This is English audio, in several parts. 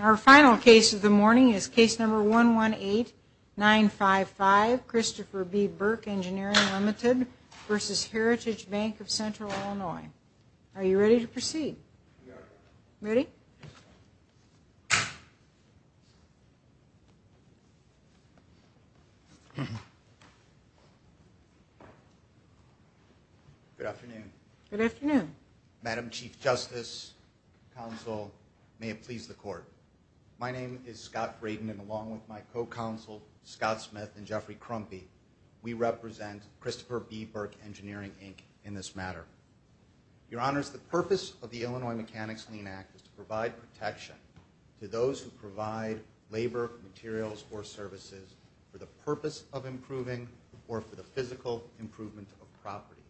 Our final case of the morning is case number 118955 Christopher B. Burke Engineering Ltd. v. Heritage Bank of Central Illinois. Are you ready to proceed? Ready? Good afternoon. Good afternoon. Madam Chief Justice, Counsel, may it please the Court. My name is Scott Braden, and along with my co-counsel Scott Smith and Jeffrey Crumpy, we represent Christopher B. Burke Engineering, Inc. in this matter. Your Honors, the purpose of the Illinois Mechanics-Lean Act is to provide protection to those who provide labor, materials, or services for the purpose of improving or for the physical improvement of a property.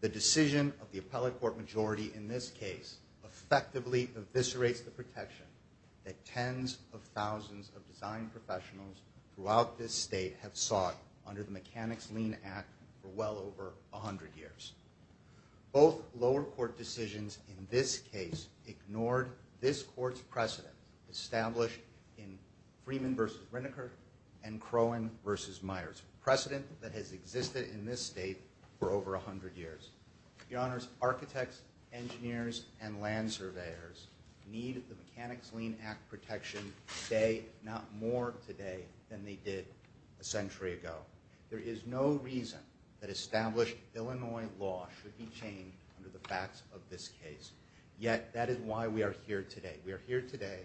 The decision of the appellate court majority in this case effectively eviscerates the protection that tens of thousands of design professionals throughout this state have sought under the Mechanics-Lean Act for well over 100 years. Both lower court decisions in this case ignored this court's precedent established in Freeman v. Rineker and Crowen v. Myers, a precedent that has existed in this state for over 100 years. Your Honors, architects, engineers, and land surveyors need the Mechanics-Lean Act protection today, not more today, than they did a century ago. There is no reason that established Illinois law should be changed under the facts of this case. Yet, that is why we are here today. We are here today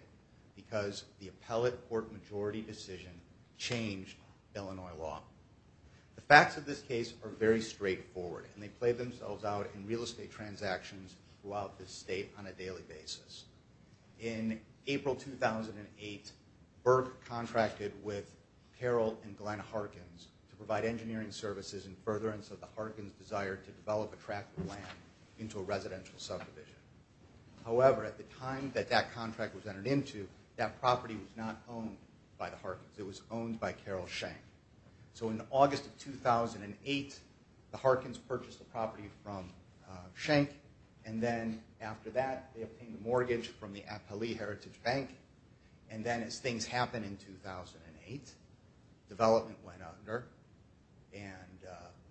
because the appellate court majority decision changed Illinois law. The facts of this case are very straightforward, and they play themselves out in real estate transactions throughout this state on a daily basis. In April 2008, Burke contracted with Carroll and Glenn Harkins to provide engineering services in furtherance of the Harkins' desire to develop a tract of land into a residential subdivision. However, at the time that that contract was entered into, that property was not owned by the Harkins. It was owned by Carroll Schenck. So in August of 2008, the Harkins purchased the property from Schenck, and then after that, they obtained a mortgage from the Appali Heritage Bank. And then as things happened in 2008, development went under, and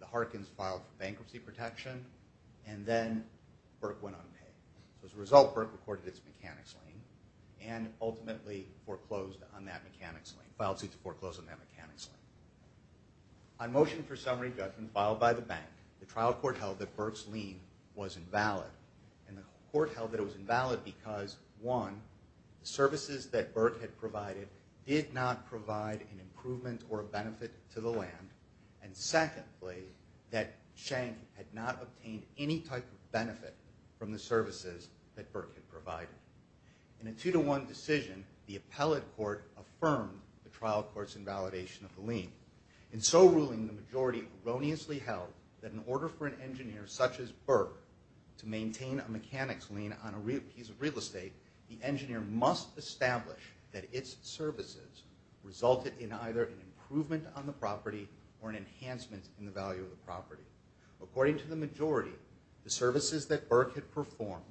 the Harkins filed for bankruptcy protection, and then Burke went unpaid. As a result, Burke recorded its mechanics lien, and ultimately filed suit to foreclose on that mechanics lien. On motion for summary judgment filed by the bank, the trial court held that Burke's lien was invalid. The services that Burke had provided did not provide an improvement or a benefit to the land, and secondly, that Schenck had not obtained any type of benefit from the services that Burke had provided. In a two-to-one decision, the appellate court affirmed the trial court's invalidation of the lien. In so ruling, the majority erroneously held that in order for an engineer such as Burke to maintain a mechanics lien on a piece of real estate, the engineer must establish that its services resulted in either an improvement on the property or an enhancement in the value of the property. According to the majority, the services that Burke had performed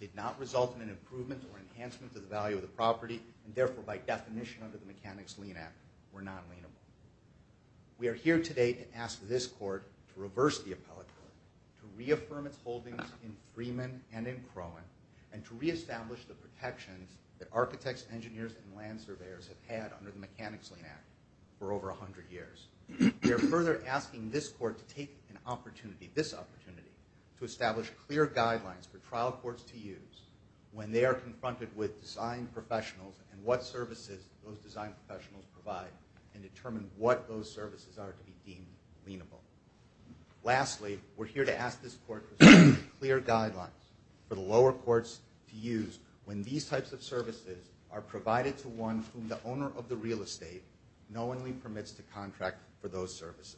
did not result in an improvement or enhancement of the value of the property, and therefore by definition under the Mechanics Lien Act were non-lienable. We are here today to ask this court to reverse the appellate court, to reaffirm its holdings in Freeman and in Crowan, and to reestablish the protections that architects, engineers, and land surveyors have had under the Mechanics Lien Act for over 100 years. We are further asking this court to take an opportunity, this opportunity, to establish clear guidelines for trial courts to use when they are confronted with design professionals and what services those design professionals provide and determine what those services are to be deemed lienable. Lastly, we are here to ask this court to establish clear guidelines for the lower courts to use when these types of services are provided to one whom the owner of the real estate knowingly permits to contract for those services.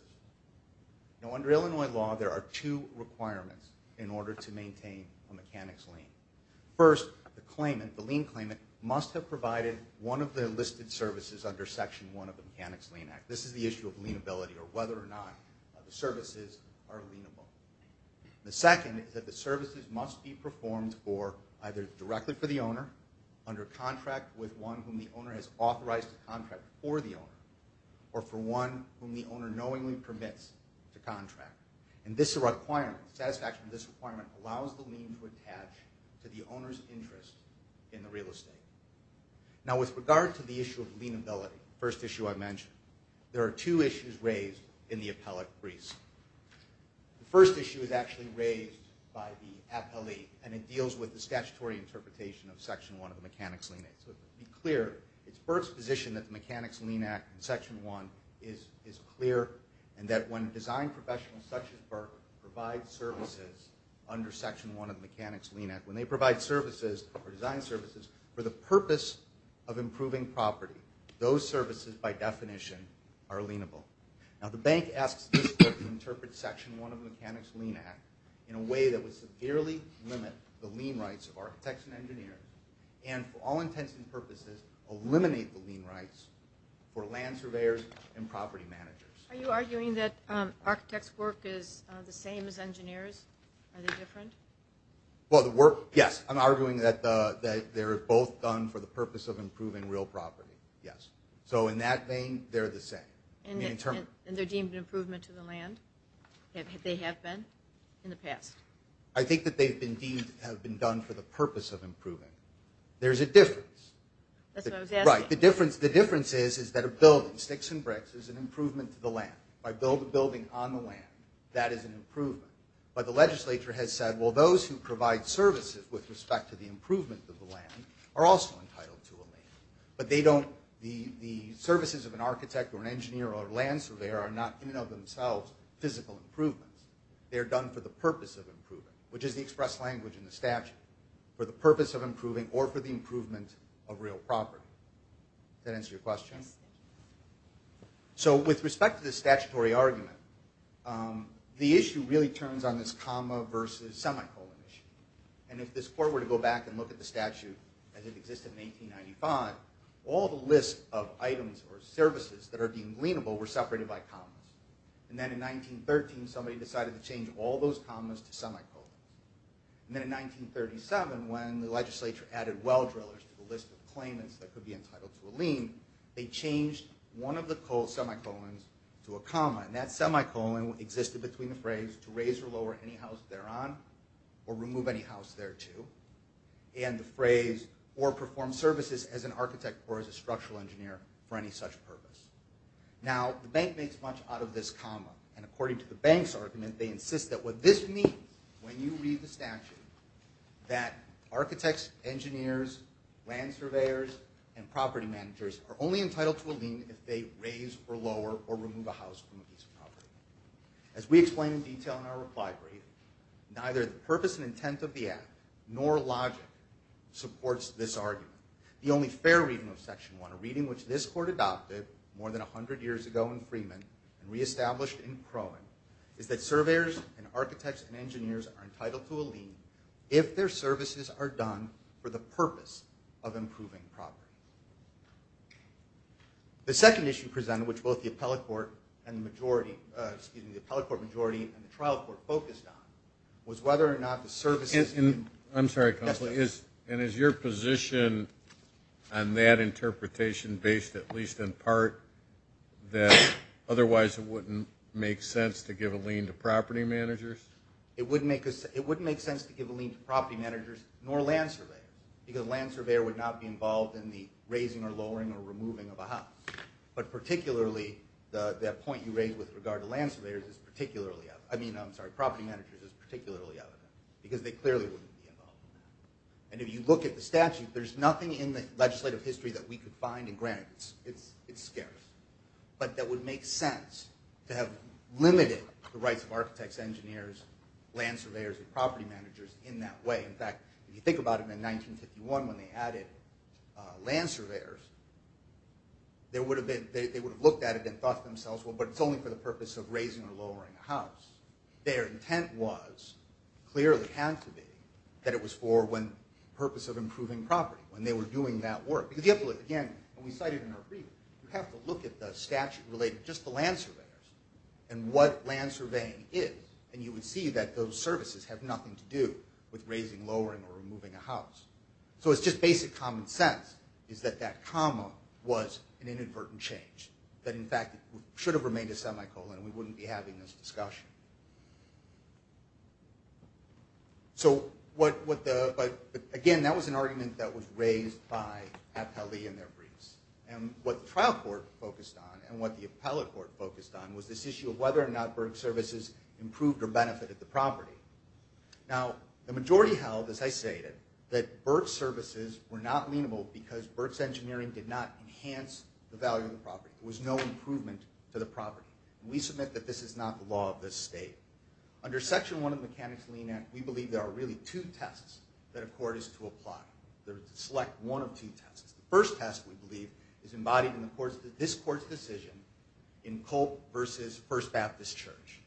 Now under Illinois law, there are two requirements in order to maintain a mechanics lien. First, the claimant, the lien claimant, must have provided one of the listed services under Section 1 of the Mechanics Lien Act. This is the issue of lienability or whether or not the services are lienable. The second is that the services must be performed for either directly for the owner, under contract with one whom the owner has authorized to contract for the owner, or for one whom the owner knowingly permits to contract. And this requirement, the satisfaction of this requirement, allows the lien to attach to the owner's interest in the real estate. Now with regard to the issue of lienability, the first issue I mentioned, there are two issues raised in the appellate briefs. The first issue is actually raised by the appellate, and it deals with the statutory interpretation of Section 1 of the Mechanics Lien Act. So to be clear, it's Burke's position that the Mechanics Lien Act in Section 1 is clear and that when design professionals such as Burke provide services under Section 1 of the Mechanics Lien Act, when they provide services or design services for the purpose of improving property, those services by definition are lienable. Now the bank asks this group to interpret Section 1 of the Mechanics Lien Act in a way that would severely limit the lien rights of architects and engineers and for all intents and purposes eliminate the lien rights for land surveyors and property managers. Are you arguing that architects' work is the same as engineers? Are they different? Well, yes. I'm arguing that they're both done for the purpose of improving real property, yes. So in that vein, they're the same. And they're deemed an improvement to the land? They have been in the past? I think that they have been done for the purpose of improving. There's a difference. That's what I was asking. Right. The difference is that a building, sticks and bricks, is an improvement to the land. By building a building on the land, that is an improvement. But the legislature has said, well, those who provide services with respect to the improvement of the land are also entitled to a lien. But they don't, the services of an architect or an engineer or a land surveyor are not in and of themselves physical improvements. They're done for the purpose of improving, which is the express language in the statute, for the purpose of improving or for the improvement of real property. Does that answer your question? Yes. So with respect to the statutory argument, the issue really turns on this comma versus semicolon issue. And if this court were to go back and look at the statute as it existed in 1895, all the lists of items or services that are deemed lienable were separated by commas. And then in 1913, somebody decided to change all those commas to semicolons. And then in 1937, when the legislature added well drillers to the list of claimants that could be entitled to a lien, they changed one of the semicolons to a comma. And that semicolon existed between the phrase, to raise or lower any house thereon, or remove any house thereto, and the phrase, or perform services as an architect or as a structural engineer for any such purpose. Now, the bank makes much out of this comma. And according to the bank's argument, they insist that what this means, when you read the statute, that architects, engineers, land surveyors, and property managers are only entitled to a lien if they raise or lower or remove a house from a piece of property. As we explain in detail in our reply brief, neither the purpose and intent of the act nor logic supports this argument. The only fair reading of Section 1, a reading which this court adopted more than 100 years ago in Freeman and reestablished in Crowan, is that surveyors and architects and engineers are entitled to a lien if their services are done for the purpose of improving property. The second issue presented, which both the appellate court and the majority, excuse me, the appellate court majority and the trial court focused on, was whether or not the services I'm sorry, Counselor. And is your position on that interpretation based at least in part that otherwise it wouldn't make sense to give a lien to property managers? It wouldn't make sense to give a lien to property managers nor land surveyors because a land surveyor would not be involved in the raising or lowering or removing of a house. But particularly, that point you raised with regard to land surveyors is particularly evident. Because they clearly wouldn't be involved in that. And if you look at the statute, there's nothing in the legislative history that we could find, and granted, it's scarce, but that would make sense to have limited the rights of architects, engineers, land surveyors, and property managers in that way. In fact, if you think about it, in 1951 when they added land surveyors, they would have looked at it and thought to themselves, well, but it's only for the purpose of raising or lowering a house. Their intent was, clearly had to be, that it was for the purpose of improving property when they were doing that work. Because you have to look again, and we cited in our review, you have to look at the statute related just to land surveyors and what land surveying is, and you would see that those services have nothing to do with raising, lowering, or removing a house. So it's just basic common sense is that that comma was an inadvertent change, that, in fact, it should have remained a semicolon. We wouldn't be having this discussion. So again, that was an argument that was raised by Appellee and their briefs. And what the trial court focused on and what the appellate court focused on was this issue of whether or not BERT services improved or benefited the property. Now, the majority held, as I stated, that BERT services were not amenable because BERT's engineering did not enhance the value of the property. There was no improvement to the property. And we submit that this is not the law of this state. Under Section 1 of the Mechanics Lien Act, we believe there are really two tests that a court is to apply. They're to select one of two tests. The first test, we believe, is embodied in this court's decision in Culp versus First Baptist Church.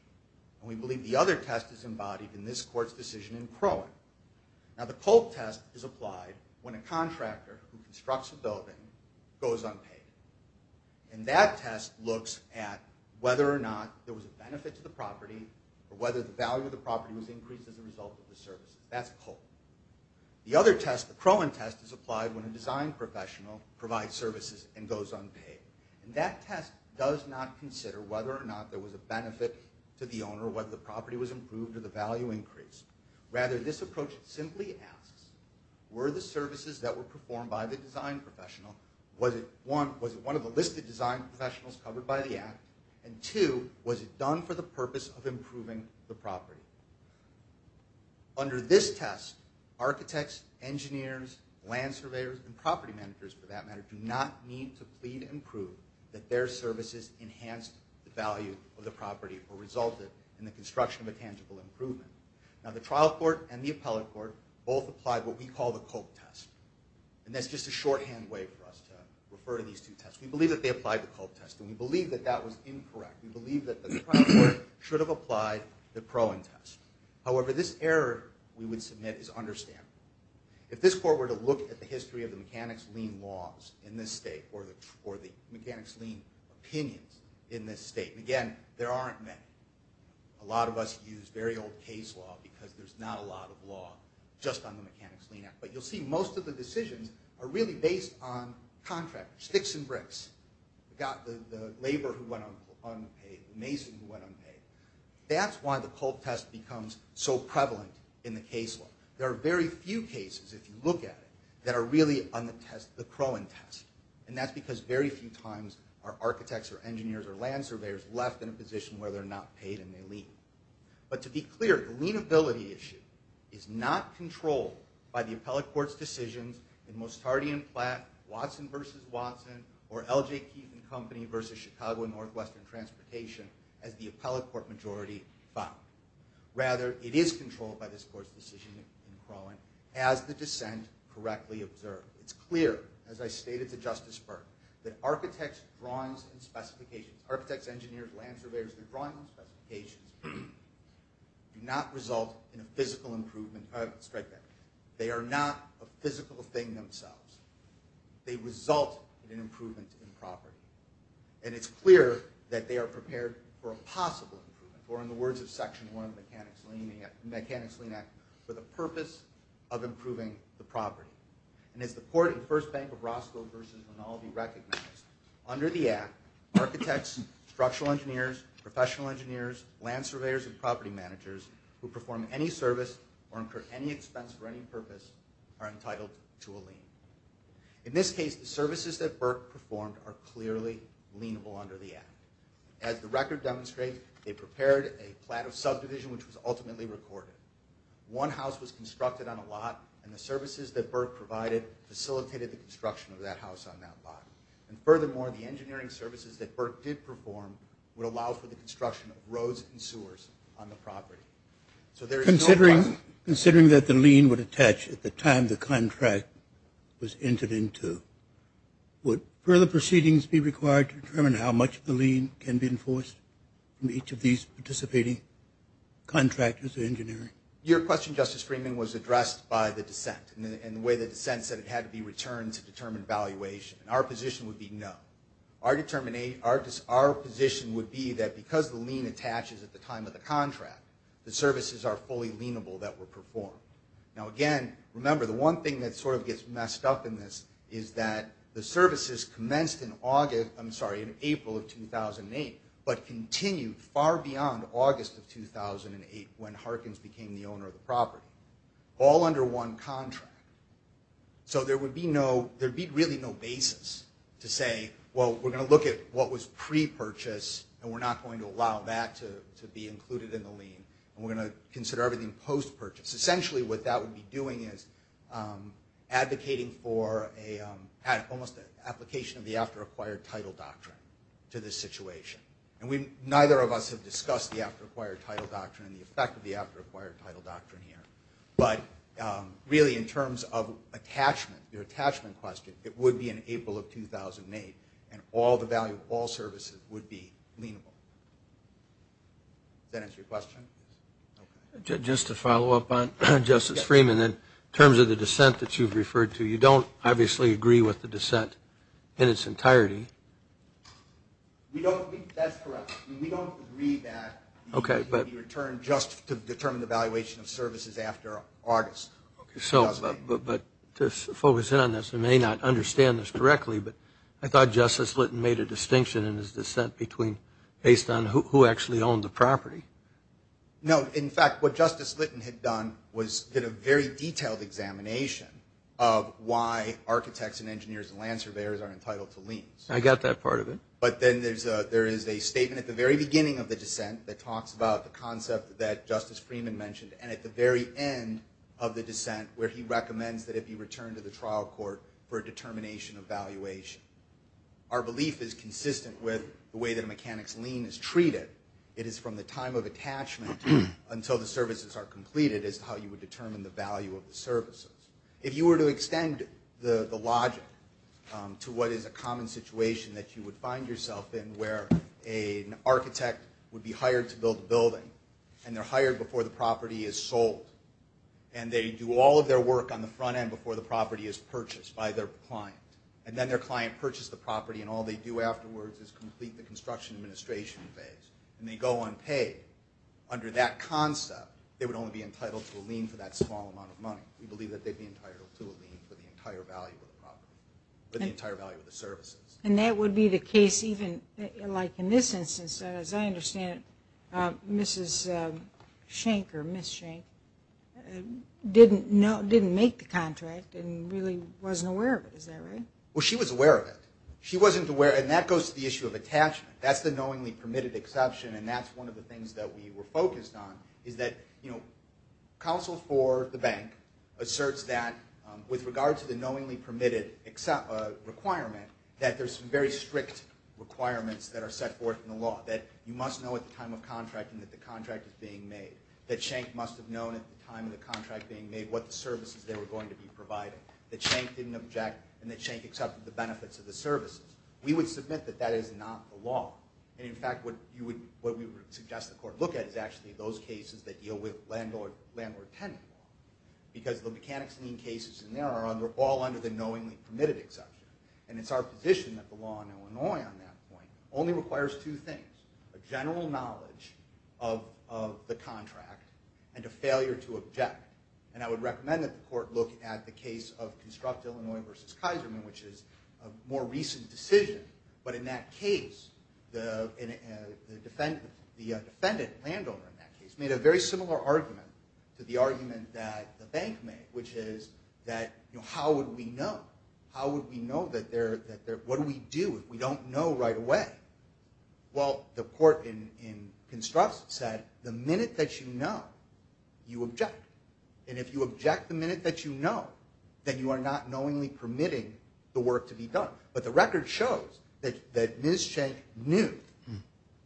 And we believe the other test is embodied in this court's decision in Crowan. Now, the Culp test is applied when a contractor who constructs a building goes unpaid. And that test looks at whether or not there was a benefit to the property or whether the value of the property was increased as a result of the services. That's Culp. The other test, the Crowan test, is applied when a design professional provides services and goes unpaid. And that test does not consider whether or not there was a benefit to the owner or whether the property was improved or the value increased. Rather, this approach simply asks, were the services that were performed by the design professional, was it one of the listed design professionals covered by the Act, and two, was it done for the purpose of improving the property? Under this test, architects, engineers, land surveyors, and property managers, for that matter, do not need to plead and prove that their services enhanced the value of the property or resulted in the construction of a tangible improvement. Now, the trial court and the appellate court both applied what we call the Culp test. And that's just a shorthand way for us to refer to these two tests. We believe that they applied the Culp test, and we believe that that was incorrect. We believe that the trial court should have applied the Crowan test. However, this error we would submit is understandable. If this court were to look at the history of the mechanics lien laws in this state or the mechanics lien opinions in this state, and again, there aren't many. A lot of us use very old case law because there's not a lot of law just on the mechanics lien Act. But you'll see most of the decisions are really based on contract, sticks and bricks. We've got the labor who went unpaid, the mason who went unpaid. That's why the Culp test becomes so prevalent in the case law. There are very few cases, if you look at it, that are really on the Crowan test. And that's because very few times are architects or engineers or land surveyors left in a position where they're not paid and they lien. But to be clear, the lienability issue is not controlled by the appellate court's decisions in Mostardi and Platt, Watson v. Watson, or L.J. Keith and Company v. Chicago and Northwestern Transportation as the appellate court majority found. Rather, it is controlled by this court's decision in Crowan, as the dissent correctly observed. It's clear, as I stated to Justice Burke, that architects' drawings and specifications, architects, engineers, land surveyors, their drawings and specifications, do not result in a physical improvement of a strike benefit. They are not a physical thing themselves. They result in an improvement in property. And it's clear that they are prepared for a possible improvement, or in the words of Section 1 of the Mechanics' Lien Act, for the purpose of improving the property. And as the court in First Bank of Roscoe v. Rinaldi recognized, under the act, architects, structural engineers, professional engineers, land surveyors, and property managers who perform any service or incur any expense for any purpose are entitled to a lien. In this case, the services that Burke performed are clearly lienable under the act. As the record demonstrates, they prepared a plat of subdivision which was ultimately recorded. One house was constructed on a lot, and the services that Burke provided facilitated the construction of that house on that lot. And furthermore, the engineering services that Burke did perform would allow for the construction of roads and sewers on the property. So there is no question. Considering that the lien would attach at the time the contract was entered into, would further proceedings be required to determine how much of the lien can be enforced from each of these participating contractors or engineering? Your question, Justice Freeman, was addressed by the dissent and the way the dissent said it had to be returned to determine valuation. And our position would be no. Our position would be that because the lien attaches at the time of the contract, the services are fully lienable that were performed. Now, again, remember, the one thing that sort of gets messed up in this is that the services commenced in April of 2008 but continued far beyond August of 2008 when Harkins became the owner of the property, all under one contract. So there would be really no basis to say, well, we're going to look at what was pre-purchase and we're not going to allow that to be included in the lien and we're going to consider everything post-purchase. Essentially what that would be doing is advocating for almost an application of the after-acquired title doctrine to this situation. And neither of us have discussed the after-acquired title doctrine and the effect of the after-acquired title doctrine here. But really in terms of attachment, the attachment question, it would be in April of 2008 and all the value of all services would be lienable. Does that answer your question? Just to follow up on Justice Freeman, in terms of the dissent that you've referred to, you don't obviously agree with the dissent in its entirety. That's correct. We don't agree that it would be returned just to determine the valuation of services after August 2008. But to focus in on this, I may not understand this directly, but I thought Justice Litton made a distinction in his dissent based on who actually owned the property. No, in fact, what Justice Litton had done was get a very detailed examination of why architects and engineers and land surveyors are entitled to liens. I got that part of it. But then there is a statement at the very beginning of the dissent that talks about the concept that Justice Freeman mentioned, and at the very end of the dissent where he recommends that it be returned to the trial court for a determination of valuation. Our belief is consistent with the way that a mechanic's lien is treated. It is from the time of attachment until the services are completed as to how you would determine the value of the services. If you were to extend the logic to what is a common situation that you would find yourself in where an architect would be hired to build a building, and they're hired before the property is sold. And they do all of their work on the front end before the property is purchased by their client. And then their client purchased the property, and all they do afterwards is complete the construction administration phase. And they go unpaid. Under that concept, they would only be entitled to a lien for that small amount of money. We believe that they'd be entitled to a lien for the entire value of the property, for the entire value of the services. And that would be the case even like in this instance. As I understand it, Mrs. Schenck or Ms. Schenck didn't make the contract and really wasn't aware of it. Is that right? Well, she was aware of it. She wasn't aware, and that goes to the issue of attachment. That's the knowingly permitted exception, and that's one of the things that we were focused on is that, you know, counsel for the bank asserts that with regard to the knowingly permitted requirement, that there's some very strict requirements that are set forth in the law, that you must know at the time of contracting that the contract is being made, that Schenck must have known at the time of the contract being made what the services they were going to be providing, that Schenck didn't object, and that Schenck accepted the benefits of the services. We would submit that that is not the law. And, in fact, what we would suggest the court look at is actually those cases that deal with landlord-tenant law because the mechanics lien cases in there are all under the knowingly permitted exception, and it's our position that the law in Illinois on that point only requires two things, a general knowledge of the contract and a failure to object. And I would recommend that the court look at the case of Construct Illinois v. Kaiserman, which is a more recent decision, but in that case the defendant, the defendant, the landowner in that case, made a very similar argument to the argument that the bank made, which is that how would we know? How would we know that they're, what do we do if we don't know right away? Well, the court in Construct said the minute that you know, you object. And if you object the minute that you know, then you are not knowingly permitting the work to be done. But the record shows that Ms. Schenck knew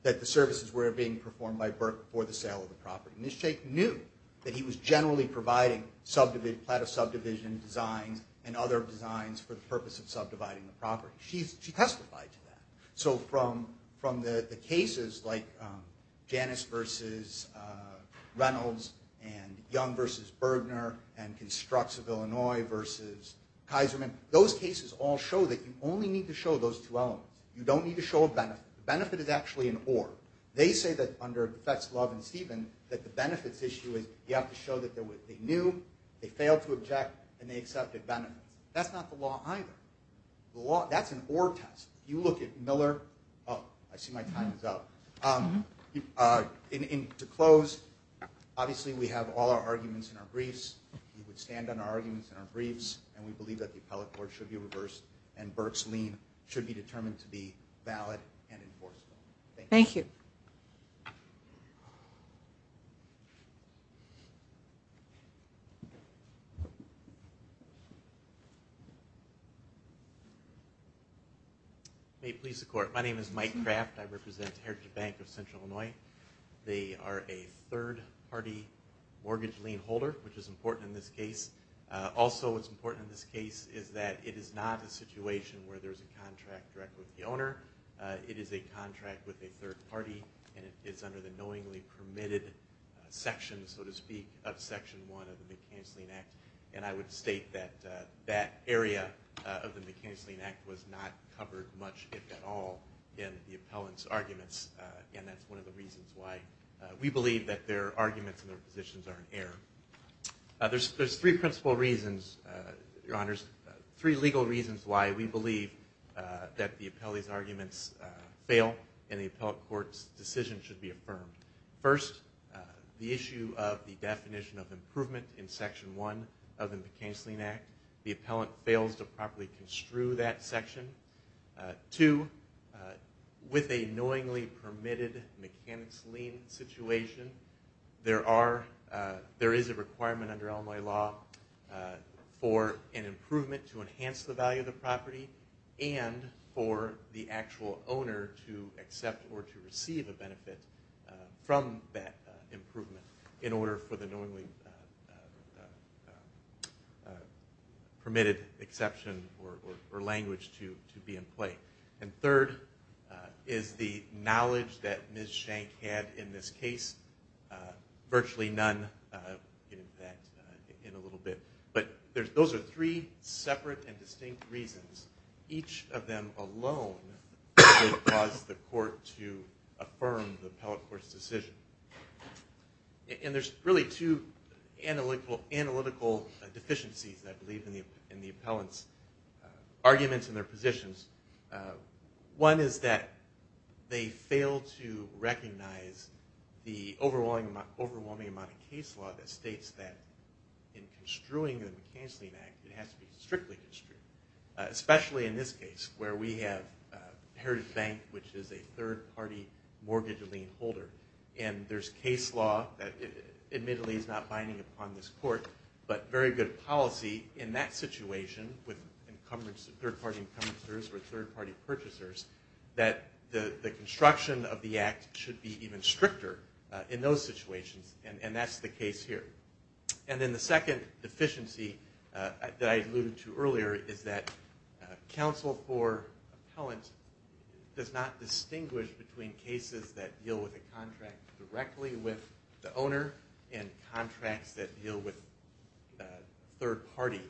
that the services were being performed by Burke for the sale of the property. Ms. Schenck knew that he was generally providing subdivision, subdivision designs and other designs for the purpose of subdividing the property. She testified to that. So from the cases like Janus v. Reynolds and Young v. Bergner and Constructs of Illinois v. Kaiserman, those cases all show that you only need to show those two elements. You don't need to show a benefit. The benefit is actually an or. They say that under the Betts, Love, and Stephen that the benefits issue is you have to show that they knew, they failed to object, and they accepted benefits. That's not the law either. The law, that's an or test. You look at Miller, oh, I see my time is up. To close, obviously we have all our arguments in our briefs. We would stand on our arguments in our briefs, and we believe that the appellate court should be reversed and Burke's lien should be determined to be valid and enforceable. Thank you. Thank you. May it please the Court. My name is Mike Kraft. I represent Heritage Bank of Central Illinois. They are a third-party mortgage lien holder, which is important in this case. Also what's important in this case is that it is not a situation where there's a contract directly with the owner. It is a contract with a third party, and it's under the knowingly permitted section, so to speak, of Section 1 of the McKinsey-Lien Act. And I would state that that area of the McKinsey-Lien Act was not covered much, if at all, in the appellant's arguments, and that's one of the reasons why we believe that their arguments and their positions are in error. There's three principal reasons, Your Honors, three legal reasons why we believe that the appellee's arguments fail and the appellate court's decision should be affirmed. First, the issue of the definition of improvement in Section 1 of the McKinsey-Lien Act. The appellant fails to properly construe that section. Two, with a knowingly permitted McKinsey-Lien situation, there is a requirement under Illinois law for an improvement to enhance the value of the property and for the actual owner to accept or to receive a benefit from that improvement in order for the knowingly permitted exception or language to be in play. And third is the knowledge that Ms. Shank had in this case. Virtually none, in fact, in a little bit. But those are three separate and distinct reasons. Each of them alone would cause the court to affirm the appellate court's decision. And there's really two analytical deficiencies, I believe, in the appellant's arguments and their positions. One is that they fail to recognize the overwhelming amount of case law that states that in construing the McKinsey-Lien Act, it has to be strictly construed, especially in this case where we have Heritage Bank, which is a third-party mortgage lien holder, and there's case law that admittedly is not binding upon this court, but very good policy in that situation with third-party encumbrances or third-party purchasers, that the construction of the Act should be even stricter in those situations, and that's the case here. And then the second deficiency that I alluded to earlier is that counsel for appellant does not distinguish between cases that deal with a contract directly with the owner and contracts that deal with third-party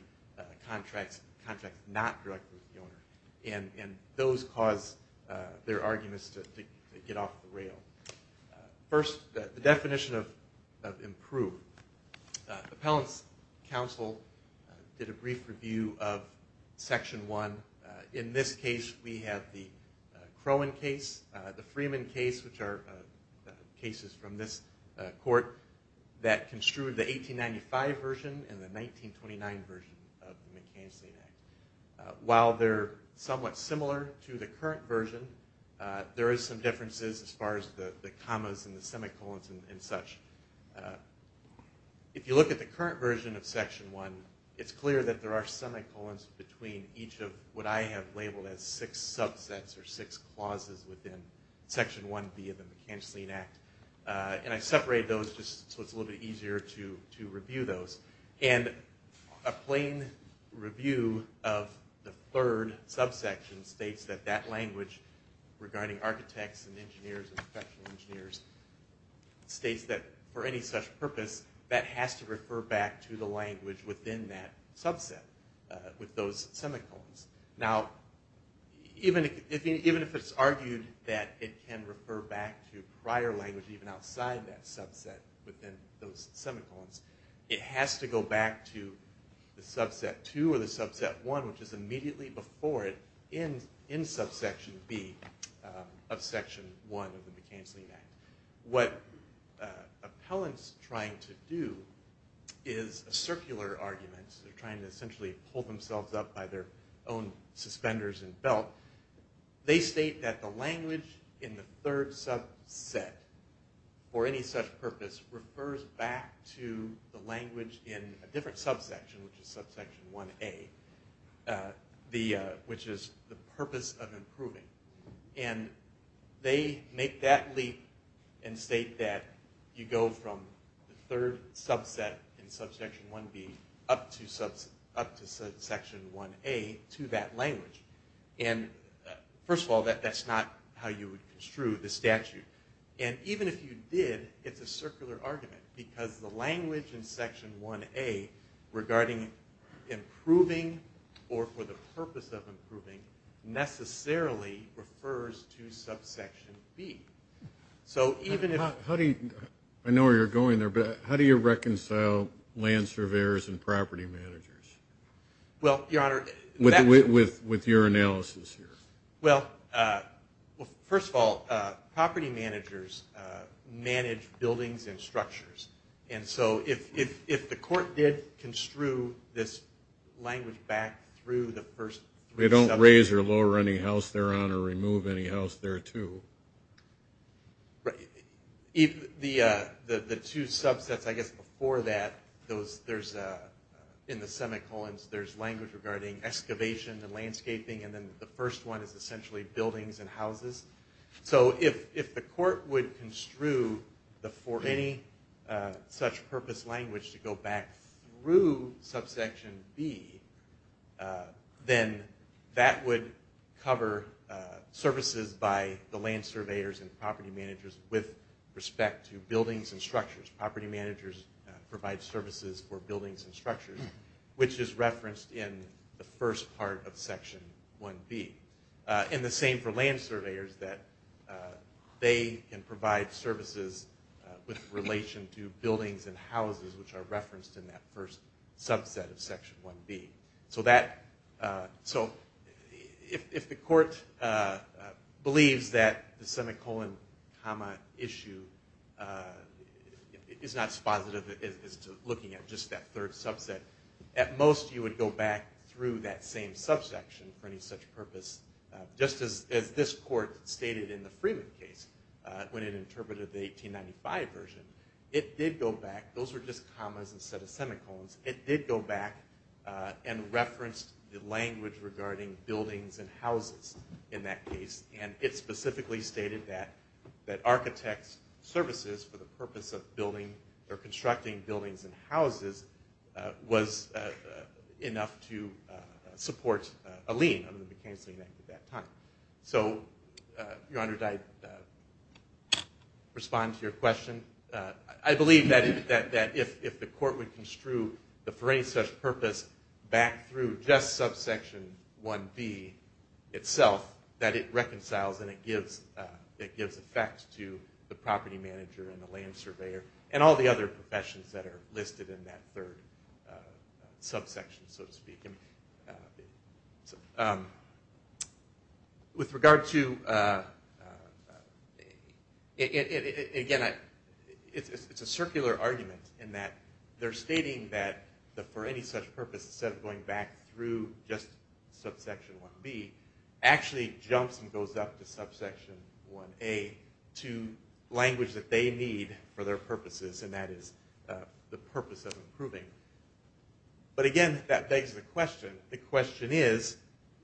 contracts, contracts not directly with the owner. And those cause their arguments to get off the rail. First, the definition of improved. The appellant's counsel did a brief review of Section 1. In this case, we have the Crowan case, the Freeman case, which are cases from this court that construed the 1895 version and the 1929 version of the McKinsey Act. While they're somewhat similar to the current version, there are some differences as far as the commas and the semicolons and such. If you look at the current version of Section 1, it's clear that there are semicolons between each of what I have labeled as six subsets or six clauses within Section 1B of the McKinsey Act. And I separated those just so it's a little bit easier to review those. And a plain review of the third subsection states that that language, regarding architects and engineers and professional engineers, states that for any such purpose, that has to refer back to the language within that subset with those semicolons. Now, even if it's argued that it can refer back to prior language even outside that subset within those semicolons, it has to go back to the subset 2 or the subset 1, which is immediately before it in subsection B of Section 1 of the McKinsey Act. What appellants are trying to do is a circular argument. They're trying to essentially pull themselves up by their own suspenders and belt. They state that the language in the third subset for any such purpose refers back to the language in a different subsection, which is subsection 1A, which is the purpose of improving. And they make that leap and state that you go from the third subset in subsection 1B up to subsection 1A to that language. And, first of all, that's not how you would construe the statute. And even if you did, it's a circular argument because the language in Section 1A regarding improving or for the purpose of improving necessarily refers to subsection B. So even if— I know where you're going there, but how do you reconcile land surveyors and property managers? Well, Your Honor— With your analysis here. Well, first of all, property managers manage buildings and structures. And so if the court did construe this language back through the first— They don't raise or lower any house thereon or remove any house thereto. Right. The two subsets, I guess, before that, in the semicolons, there's language regarding excavation and landscaping, and then the first one is essentially buildings and houses. So if the court would construe for any such purpose language to go back through subsection B, then that would cover services by the land surveyors and property managers with respect to buildings and structures. Property managers provide services for buildings and structures, which is referenced in the first part of Section 1B. And the same for land surveyors, which are referenced in that first subset of Section 1B. So if the court believes that the semicolon comma issue is not as positive as looking at just that third subset, at most you would go back through that same subsection for any such purpose, just as this court stated in the Freeman case when it interpreted the 1895 version. It did go back. Those were just commas instead of semicolons. It did go back and reference the language regarding buildings and houses in that case, and it specifically stated that architects' services for the purpose of building or constructing buildings and houses was enough to support a lien under the McKinsey Act at that time. So, Your Honor, did I respond to your question? I believe that if the court would construe that for any such purpose, back through just subsection 1B itself, that it reconciles and it gives effect to the property manager and the land surveyor and all the other professions that are listed in that third subsection, so to speak. With regard to, again, it's a circular argument in that they're stating that for any such purpose, instead of going back through just subsection 1B, actually jumps and goes up to subsection 1A to language that they need for their purposes, and that is the purpose of improving. But again, that begs the question. The question is,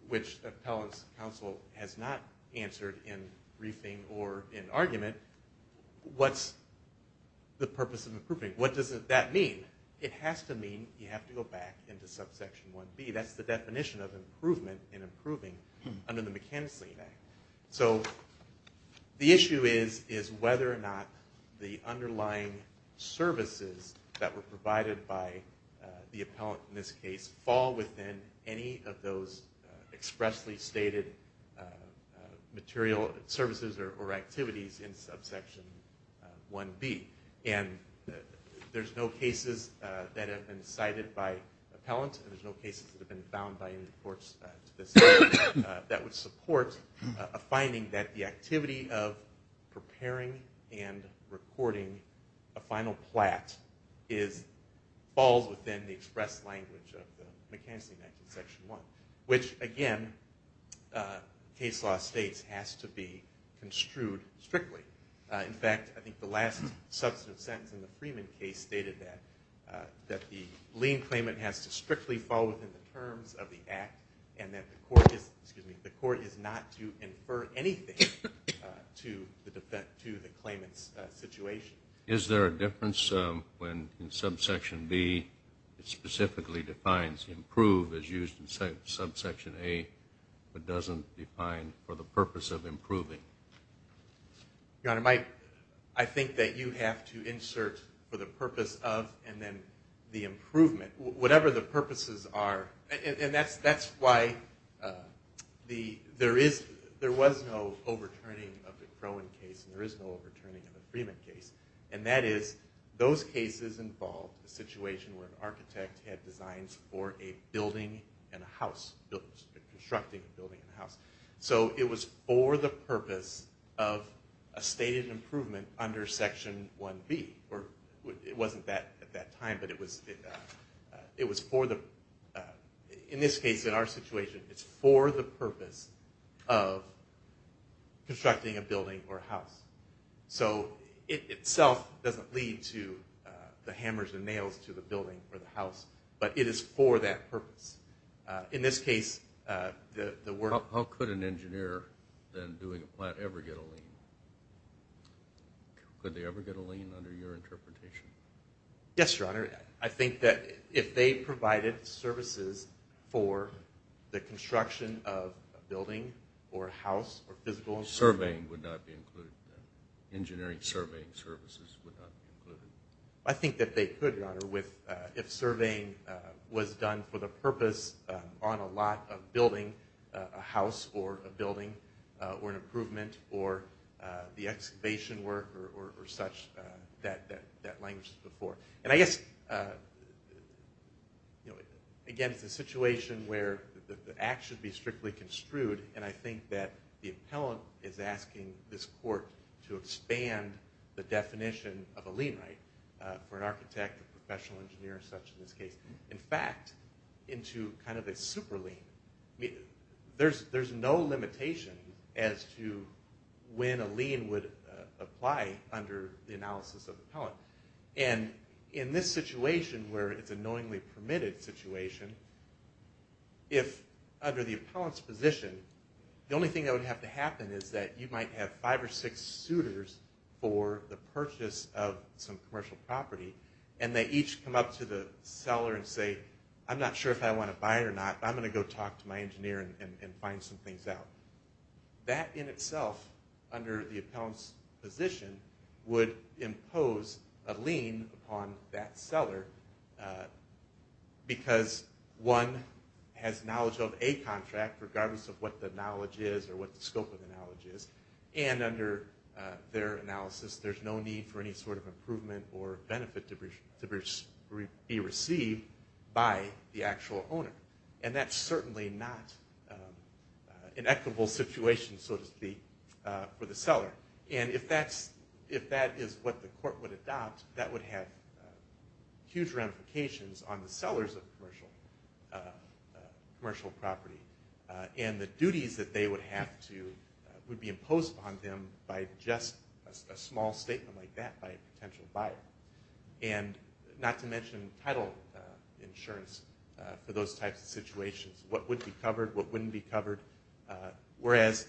which appellant's counsel has not answered in briefing or in argument, what's the purpose of improving? What does that mean? It has to mean you have to go back into subsection 1B. That's the definition of improvement and improving under the McKinsey Act. So the issue is whether or not the underlying services that were provided by the appellant in this case fall within any of those expressly stated material services or activities in subsection 1B. And there's no cases that have been cited by appellants, and there's no cases that have been found by any of the courts to this day, that would support a finding that the activity of preparing and recording a final plat falls within the express language of the McKinsey Act in section 1, which, again, case law states has to be construed strictly. In fact, I think the last substantive sentence in the Freeman case stated that, the lien claimant has to strictly fall within the terms of the act and that the court is not to infer anything to the claimant's situation. Is there a difference when subsection B specifically defines improve as used in subsection A but doesn't define for the purpose of improving? Your Honor, I think that you have to insert for the purpose of and then the improvement, whatever the purposes are, and that's why there was no overturning of the Crowan case and there is no overturning of the Freeman case, and that is those cases involved a situation where an architect had designs for a building and a house, constructing a building and a house. So it was for the purpose of a stated improvement under section 1B. It wasn't at that time, but it was for the, in this case, in our situation, it's for the purpose of constructing a building or a house. So it itself doesn't lead to the hammers and nails to the building or the house, but it is for that purpose. In this case, the work… How could an engineer then doing a plant ever get a lien? Could they ever get a lien under your interpretation? Yes, Your Honor. I think that if they provided services for the construction of a building or a house or physical… Surveying would not be included. Engineering surveying services would not be included. I think that they could, Your Honor, if surveying was done for the purpose on a lot of building, a house or a building or an improvement or the excavation work or such. That language is before. And I guess, again, it's a situation where the act should be strictly construed, and I think that the appellant is asking this court to expand the definition of a lien right for an architect or professional engineer or such in this case. In fact, into kind of a super lien. There's no limitation as to when a lien would apply under the analysis of the appellant. And in this situation where it's a knowingly permitted situation, if under the appellant's position, the only thing that would have to happen is that you might have five or six suitors for the purchase of some commercial property, and they each come up to the seller and say, I'm not sure if I want to buy it or not, but I'm going to go talk to my engineer and find some things out. That in itself, under the appellant's position, would impose a lien upon that seller because one has knowledge of a contract, regardless of what the knowledge is or what the scope of the knowledge is, and under their analysis, there's no need for any sort of improvement or benefit to be received by the actual owner. And that's certainly not an equitable situation, so to speak, for the seller. And if that is what the court would adopt, that would have huge ramifications on the sellers of commercial property. And the duties that they would have to would be imposed upon them by just a small statement like that by a potential buyer. And not to mention title insurance for those types of situations. What would be covered, what wouldn't be covered. Whereas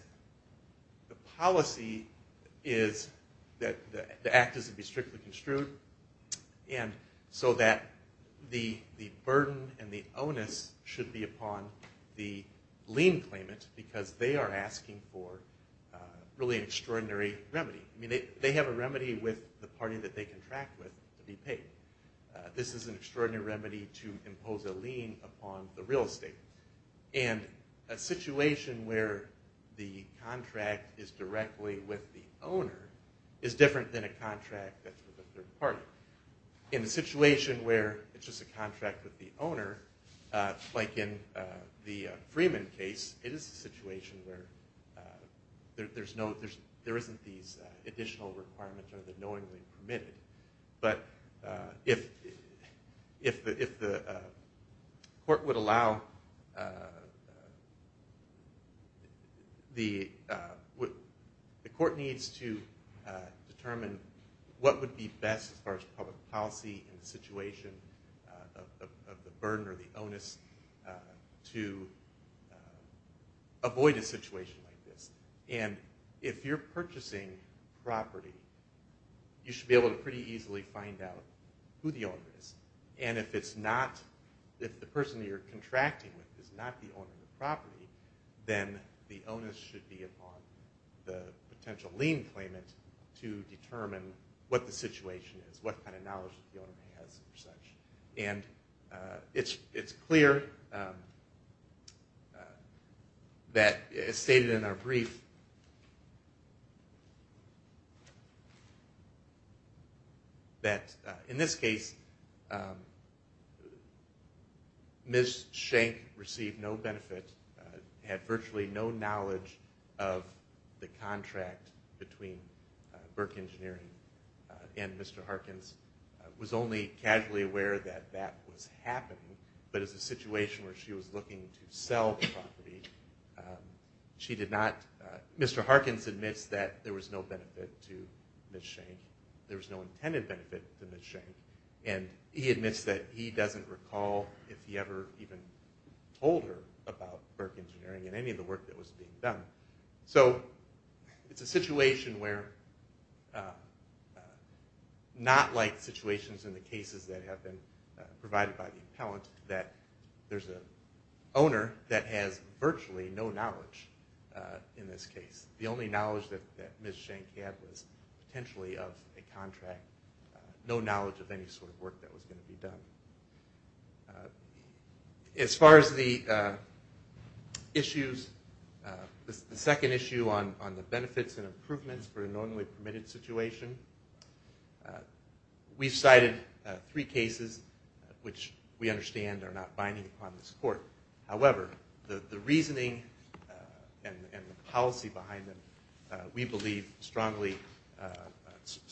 the policy is that the act is to be strictly construed, and so that the burden and the onus should be upon the lien claimant because they are asking for really an extraordinary remedy. I mean, they have a remedy with the party that they contract with to be paid. This is an extraordinary remedy to impose a lien upon the real estate. And a situation where the contract is directly with the owner is different than a contract that's with a third party. In a situation where it's just a contract with the owner, like in the Freeman case, it is a situation where there isn't these additional requirements or they're knowingly permitted. But if the court would allow the court needs to determine what would be best as far as public policy in the situation of the burden or the onus to avoid a situation like this. And if you're purchasing property, you should be able to pretty easily find out who the owner is. And if it's not, if the person you're contracting with is not the owner of the property, then the onus should be upon the potential lien claimant to determine what the situation is, what kind of knowledge the owner has and such. And it's clear that, as stated in our brief, that in this case, Ms. Schenck received no benefit, had virtually no knowledge of the contract between Burke Engineering and Mr. Harkins, was only casually aware that that was happening, but as a situation where she was looking to sell the property, Mr. Harkins admits that there was no benefit to Ms. Schenck, there was no intended benefit to Ms. Schenck, and he admits that he doesn't recall if he ever even told her about Burke Engineering in any of the work that was being done. So it's a situation where, not like situations in the cases that have been provided by the appellant, that there's an owner that has virtually no knowledge in this case. The only knowledge that Ms. Schenck had was potentially of a contract, no knowledge of any sort of work that was going to be done. As far as the issues, the second issue on the benefits and improvements for a normally permitted situation, we've cited three cases which we understand are not binding upon this court. However, the reasoning and the policy behind them we believe strongly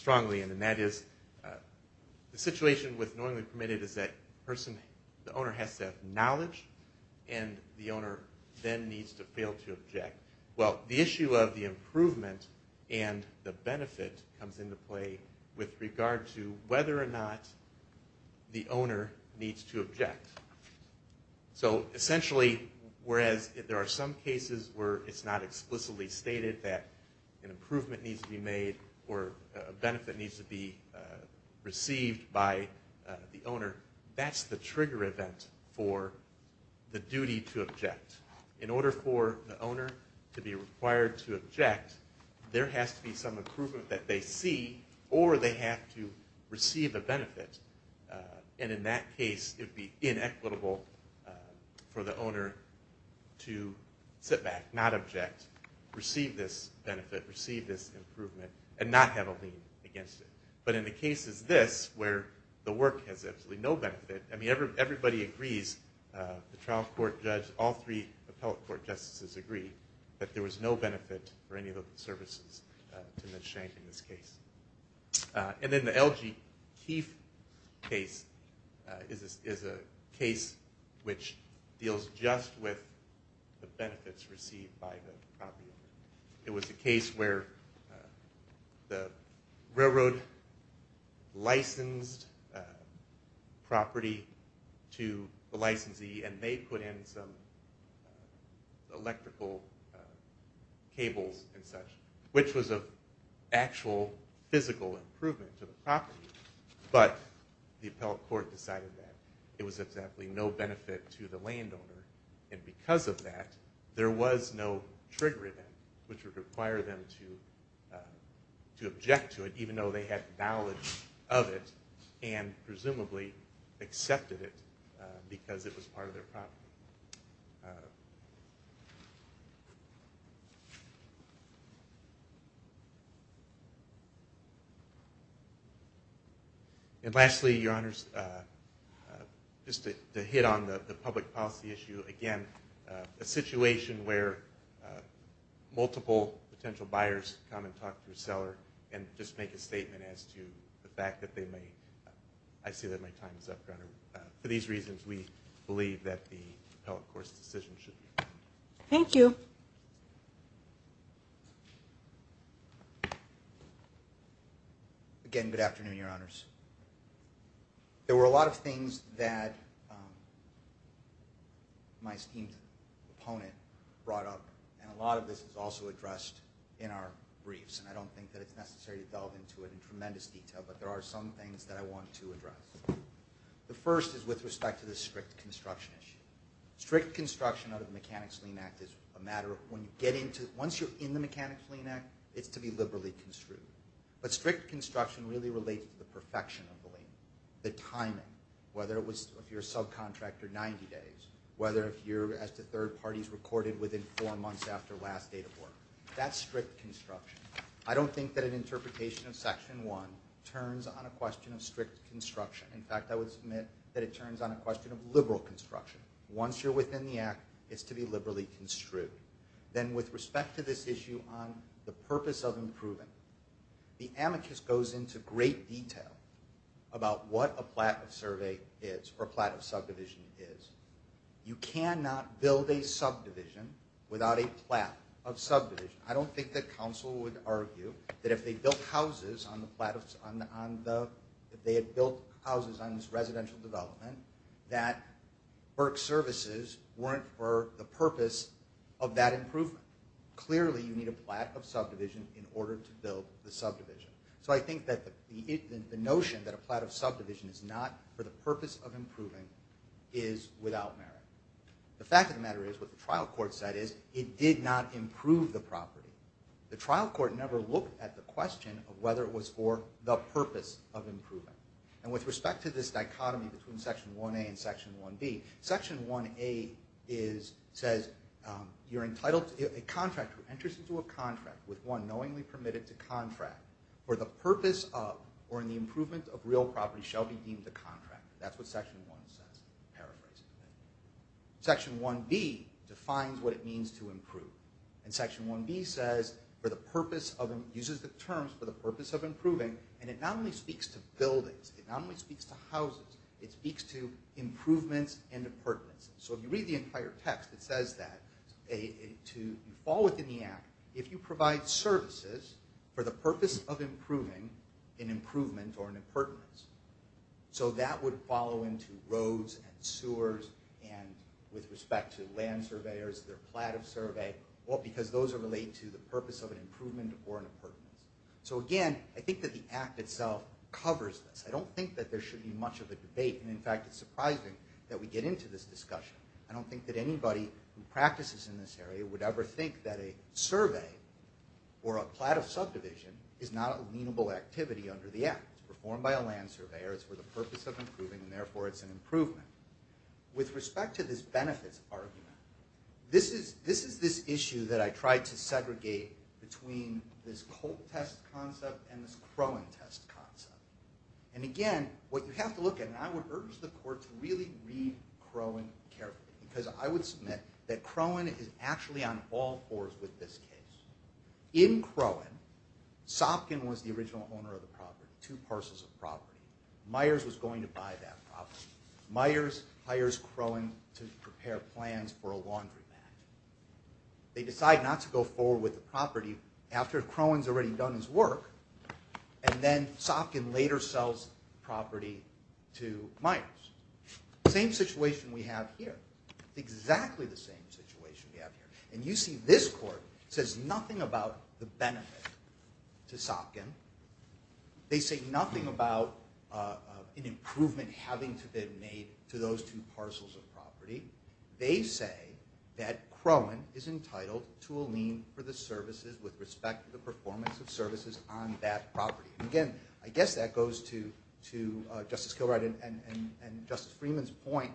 in, and that is the situation with normally permitted is that the owner has to have knowledge and the owner then needs to fail to object. Well, the issue of the improvement and the benefit comes into play with regard to whether or not the owner needs to object. So essentially, whereas there are some cases where it's not explicitly stated that an improvement needs to be made or a benefit needs to be received by the owner, that's the trigger event for the duty to object. In order for the owner to be required to object, there has to be some improvement that they see or they have to receive a benefit. And in that case, it would be inequitable for the owner to sit back, not object, receive this benefit, receive this improvement, and not have a lien against it. But in the cases this, where the work has absolutely no benefit, I mean, everybody agrees, the trial court judge, all three appellate court justices agree, that there was no benefit for any of the services to Ms. Schenck in this case. And then the LG Keefe case is a case which deals just with the benefits received by the property owner. It was a case where the railroad licensed property to the licensee, and they put in some electrical cables and such, which was an actual physical improvement to the property. But the appellate court decided that it was exactly no benefit to the landowner. And because of that, there was no trigger event which would require them to object to it, even though they had knowledge of it and presumably accepted it because it was part of their property. And lastly, Your Honors, just to hit on the public policy issue again, a situation where multiple potential buyers come and talk to a seller and just make a statement as to the fact that they may, I see that my time is up, Your Honor. For these reasons, we believe that the appellate court's decision should be made. Thank you. Joseph? Again, good afternoon, Your Honors. There were a lot of things that my esteemed opponent brought up, and a lot of this is also addressed in our briefs, and I don't think that it's necessary to delve into it in tremendous detail, but there are some things that I want to address. The first is with respect to the strict construction issue. Strict construction out of the Mechanics' Lien Act is a matter of when you get into it. Once you're in the Mechanics' Lien Act, it's to be liberally construed. But strict construction really relates to the perfection of the lien, the timing, whether it was if you're a subcontractor, 90 days, whether if you're as to third parties recorded within four months after last date of work. That's strict construction. I don't think that an interpretation of Section 1 turns on a question of strict construction. In fact, I would submit that it turns on a question of liberal construction. Once you're within the act, it's to be liberally construed. Then with respect to this issue on the purpose of improving, the amicus goes into great detail about what a plat of survey is, or a plat of subdivision is. You cannot build a subdivision without a plat of subdivision. I don't think that council would argue that if they built houses on this residential development, that Burke services weren't for the purpose of that improvement. Clearly, you need a plat of subdivision in order to build the subdivision. So I think that the notion that a plat of subdivision is not for the purpose of improving is without merit. The fact of the matter is what the trial court said is it did not improve the property. The trial court never looked at the question of whether it was for the purpose of improving. With respect to this dichotomy between Section 1A and Section 1B, Section 1A says a contractor enters into a contract with one knowingly permitted to contract for the purpose of or in the improvement of real property shall be deemed a contract. That's what Section 1 says, paraphrasing. Section 1B defines what it means to improve. Section 1B uses the terms for the purpose of improving, and it not only speaks to buildings, it not only speaks to houses, it speaks to improvements and appurtenances. So if you read the entire text, it says that you fall within the act if you provide services for the purpose of improving an improvement or an appurtenance. So that would follow into roads and sewers and with respect to land surveyors, their plat of survey, because those are related to the purpose of an improvement or an appurtenance. So again, I think that the act itself covers this. I don't think that there should be much of a debate, and in fact it's surprising that we get into this discussion. I don't think that anybody who practices in this area would ever think that a survey or a plat of subdivision is not a leenable activity under the act. It's performed by a land surveyor, it's for the purpose of improving, and therefore it's an improvement. With respect to this benefits argument, this is this issue that I tried to segregate between this Colt test concept and this Crowan test concept. And again, what you have to look at, and I would urge the court to really read Crowan carefully, because I would submit that Crowan is actually on all fours with this case. In Crowan, Sopkin was the original owner of the property, two parcels of property. Myers was going to buy that property. Myers hires Crowan to prepare plans for a laundry mat. They decide not to go forward with the property after Crowan's already done his work, and then Sopkin later sells the property to Myers. Same situation we have here. Exactly the same situation we have here. And you see this court says nothing about the benefit to Sopkin. They say nothing about an improvement having to be made to those two parcels of property. They say that Crowan is entitled to a lien for the services with respect to the performance of services on that property. And again, I guess that goes to Justice Kilbride and Justice Freeman's point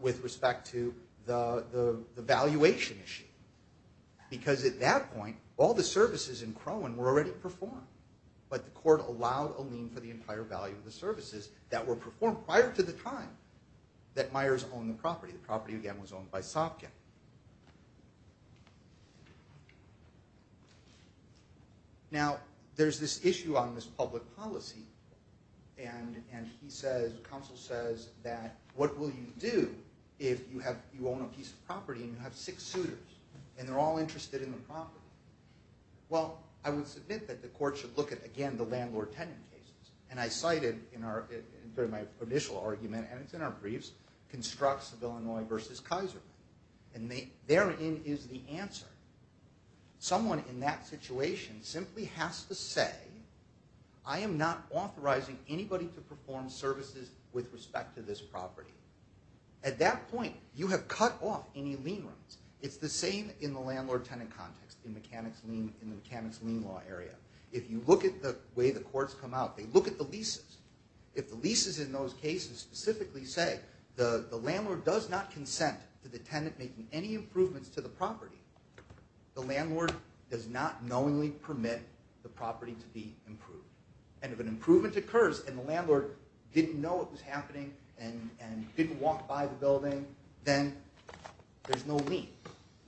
with respect to the valuation issue, because at that point, all the services in Crowan were already performed, but the court allowed a lien for the entire value of the services that were performed prior to the time that Myers owned the property. The property, again, was owned by Sopkin. Now, there's this issue on this public policy, and the counsel says that what will you do if you own a piece of property and you have six suitors, and they're all interested in the property? Well, I would submit that the court should look at, again, the landlord-tenant cases. And I cited in my initial argument, and it's in our briefs, constructs of Illinois versus Kaiser. And therein is the answer. Someone in that situation simply has to say, I am not authorizing anybody to perform services with respect to this property. At that point, you have cut off any lien rights. It's the same in the landlord-tenant context in the mechanics lien law area. If you look at the way the courts come out, they look at the leases. If the leases in those cases specifically say the landlord does not consent to the tenant making any improvements to the property, the landlord does not knowingly permit the property to be improved. And if an improvement occurs and the landlord didn't know it was happening and didn't walk by the building, then there's no lien.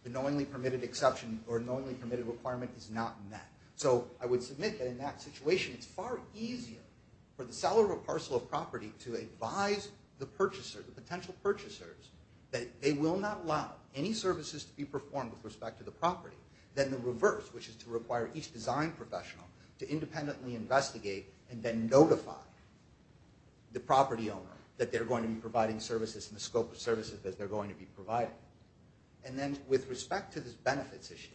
The knowingly permitted exception or knowingly permitted requirement is not met. So I would submit that in that situation it's far easier for the seller of a parcel of property to advise the purchaser, the potential purchasers, that they will not allow any services to be performed with respect to the property than the reverse, which is to require each design professional to independently investigate and then notify the property owner that they're going to be providing services in the scope of services that they're going to be providing. And then with respect to this benefits issue,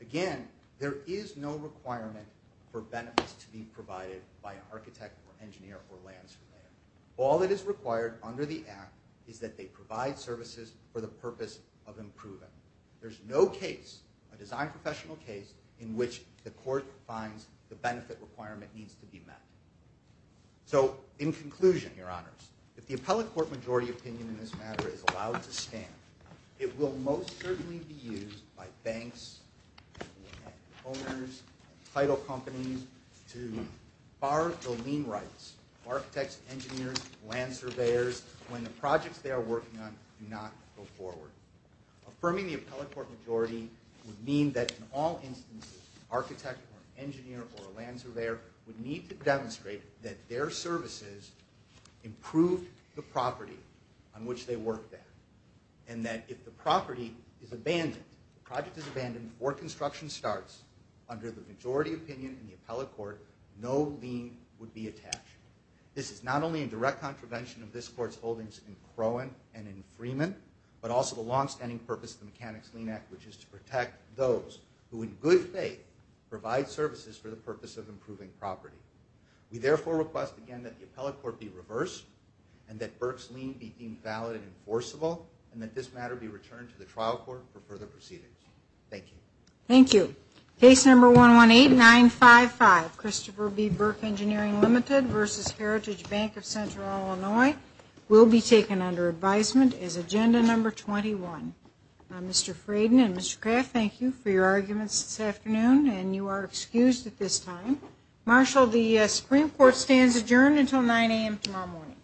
again, there is no requirement for benefits to be provided by an architect or engineer or land surveyor. All that is required under the Act is that they provide services for the purpose of improving. There's no case, a design professional case, in which the court finds the benefit requirement needs to be met. So in conclusion, Your Honors, if the appellate court majority opinion in this matter is allowed to stand, it will most certainly be used by banks, homeowners, title companies to bar the lien rights of architects, engineers, land surveyors when the projects they are working on do not go forward. Affirming the appellate court majority would mean that in all instances, an architect or an engineer or a land surveyor would need to demonstrate that their services improved the property on which they worked at. And that if the property is abandoned, the project is abandoned, or construction starts, under the majority opinion in the appellate court, no lien would be attached. This is not only a direct contravention of this Court's holdings in Crowan and in Freeman, but also the longstanding purpose of the Mechanics' Lien Act, which is to protect those who in good faith provide services for the purpose of improving property. We therefore request again that the appellate court be reversed, and that Burke's lien be deemed valid and enforceable, and that this matter be returned to the trial court for further proceedings. Thank you. Thank you. Case number 118955, Christopher B. Burke Engineering Ltd. v. Heritage Bank of Central Illinois, will be taken under advisement as agenda number 21. Mr. Fraden and Mr. Kraft, thank you for your arguments this afternoon, and you are excused at this time. Marshal, the Supreme Court stands adjourned until 9 a.m. tomorrow morning.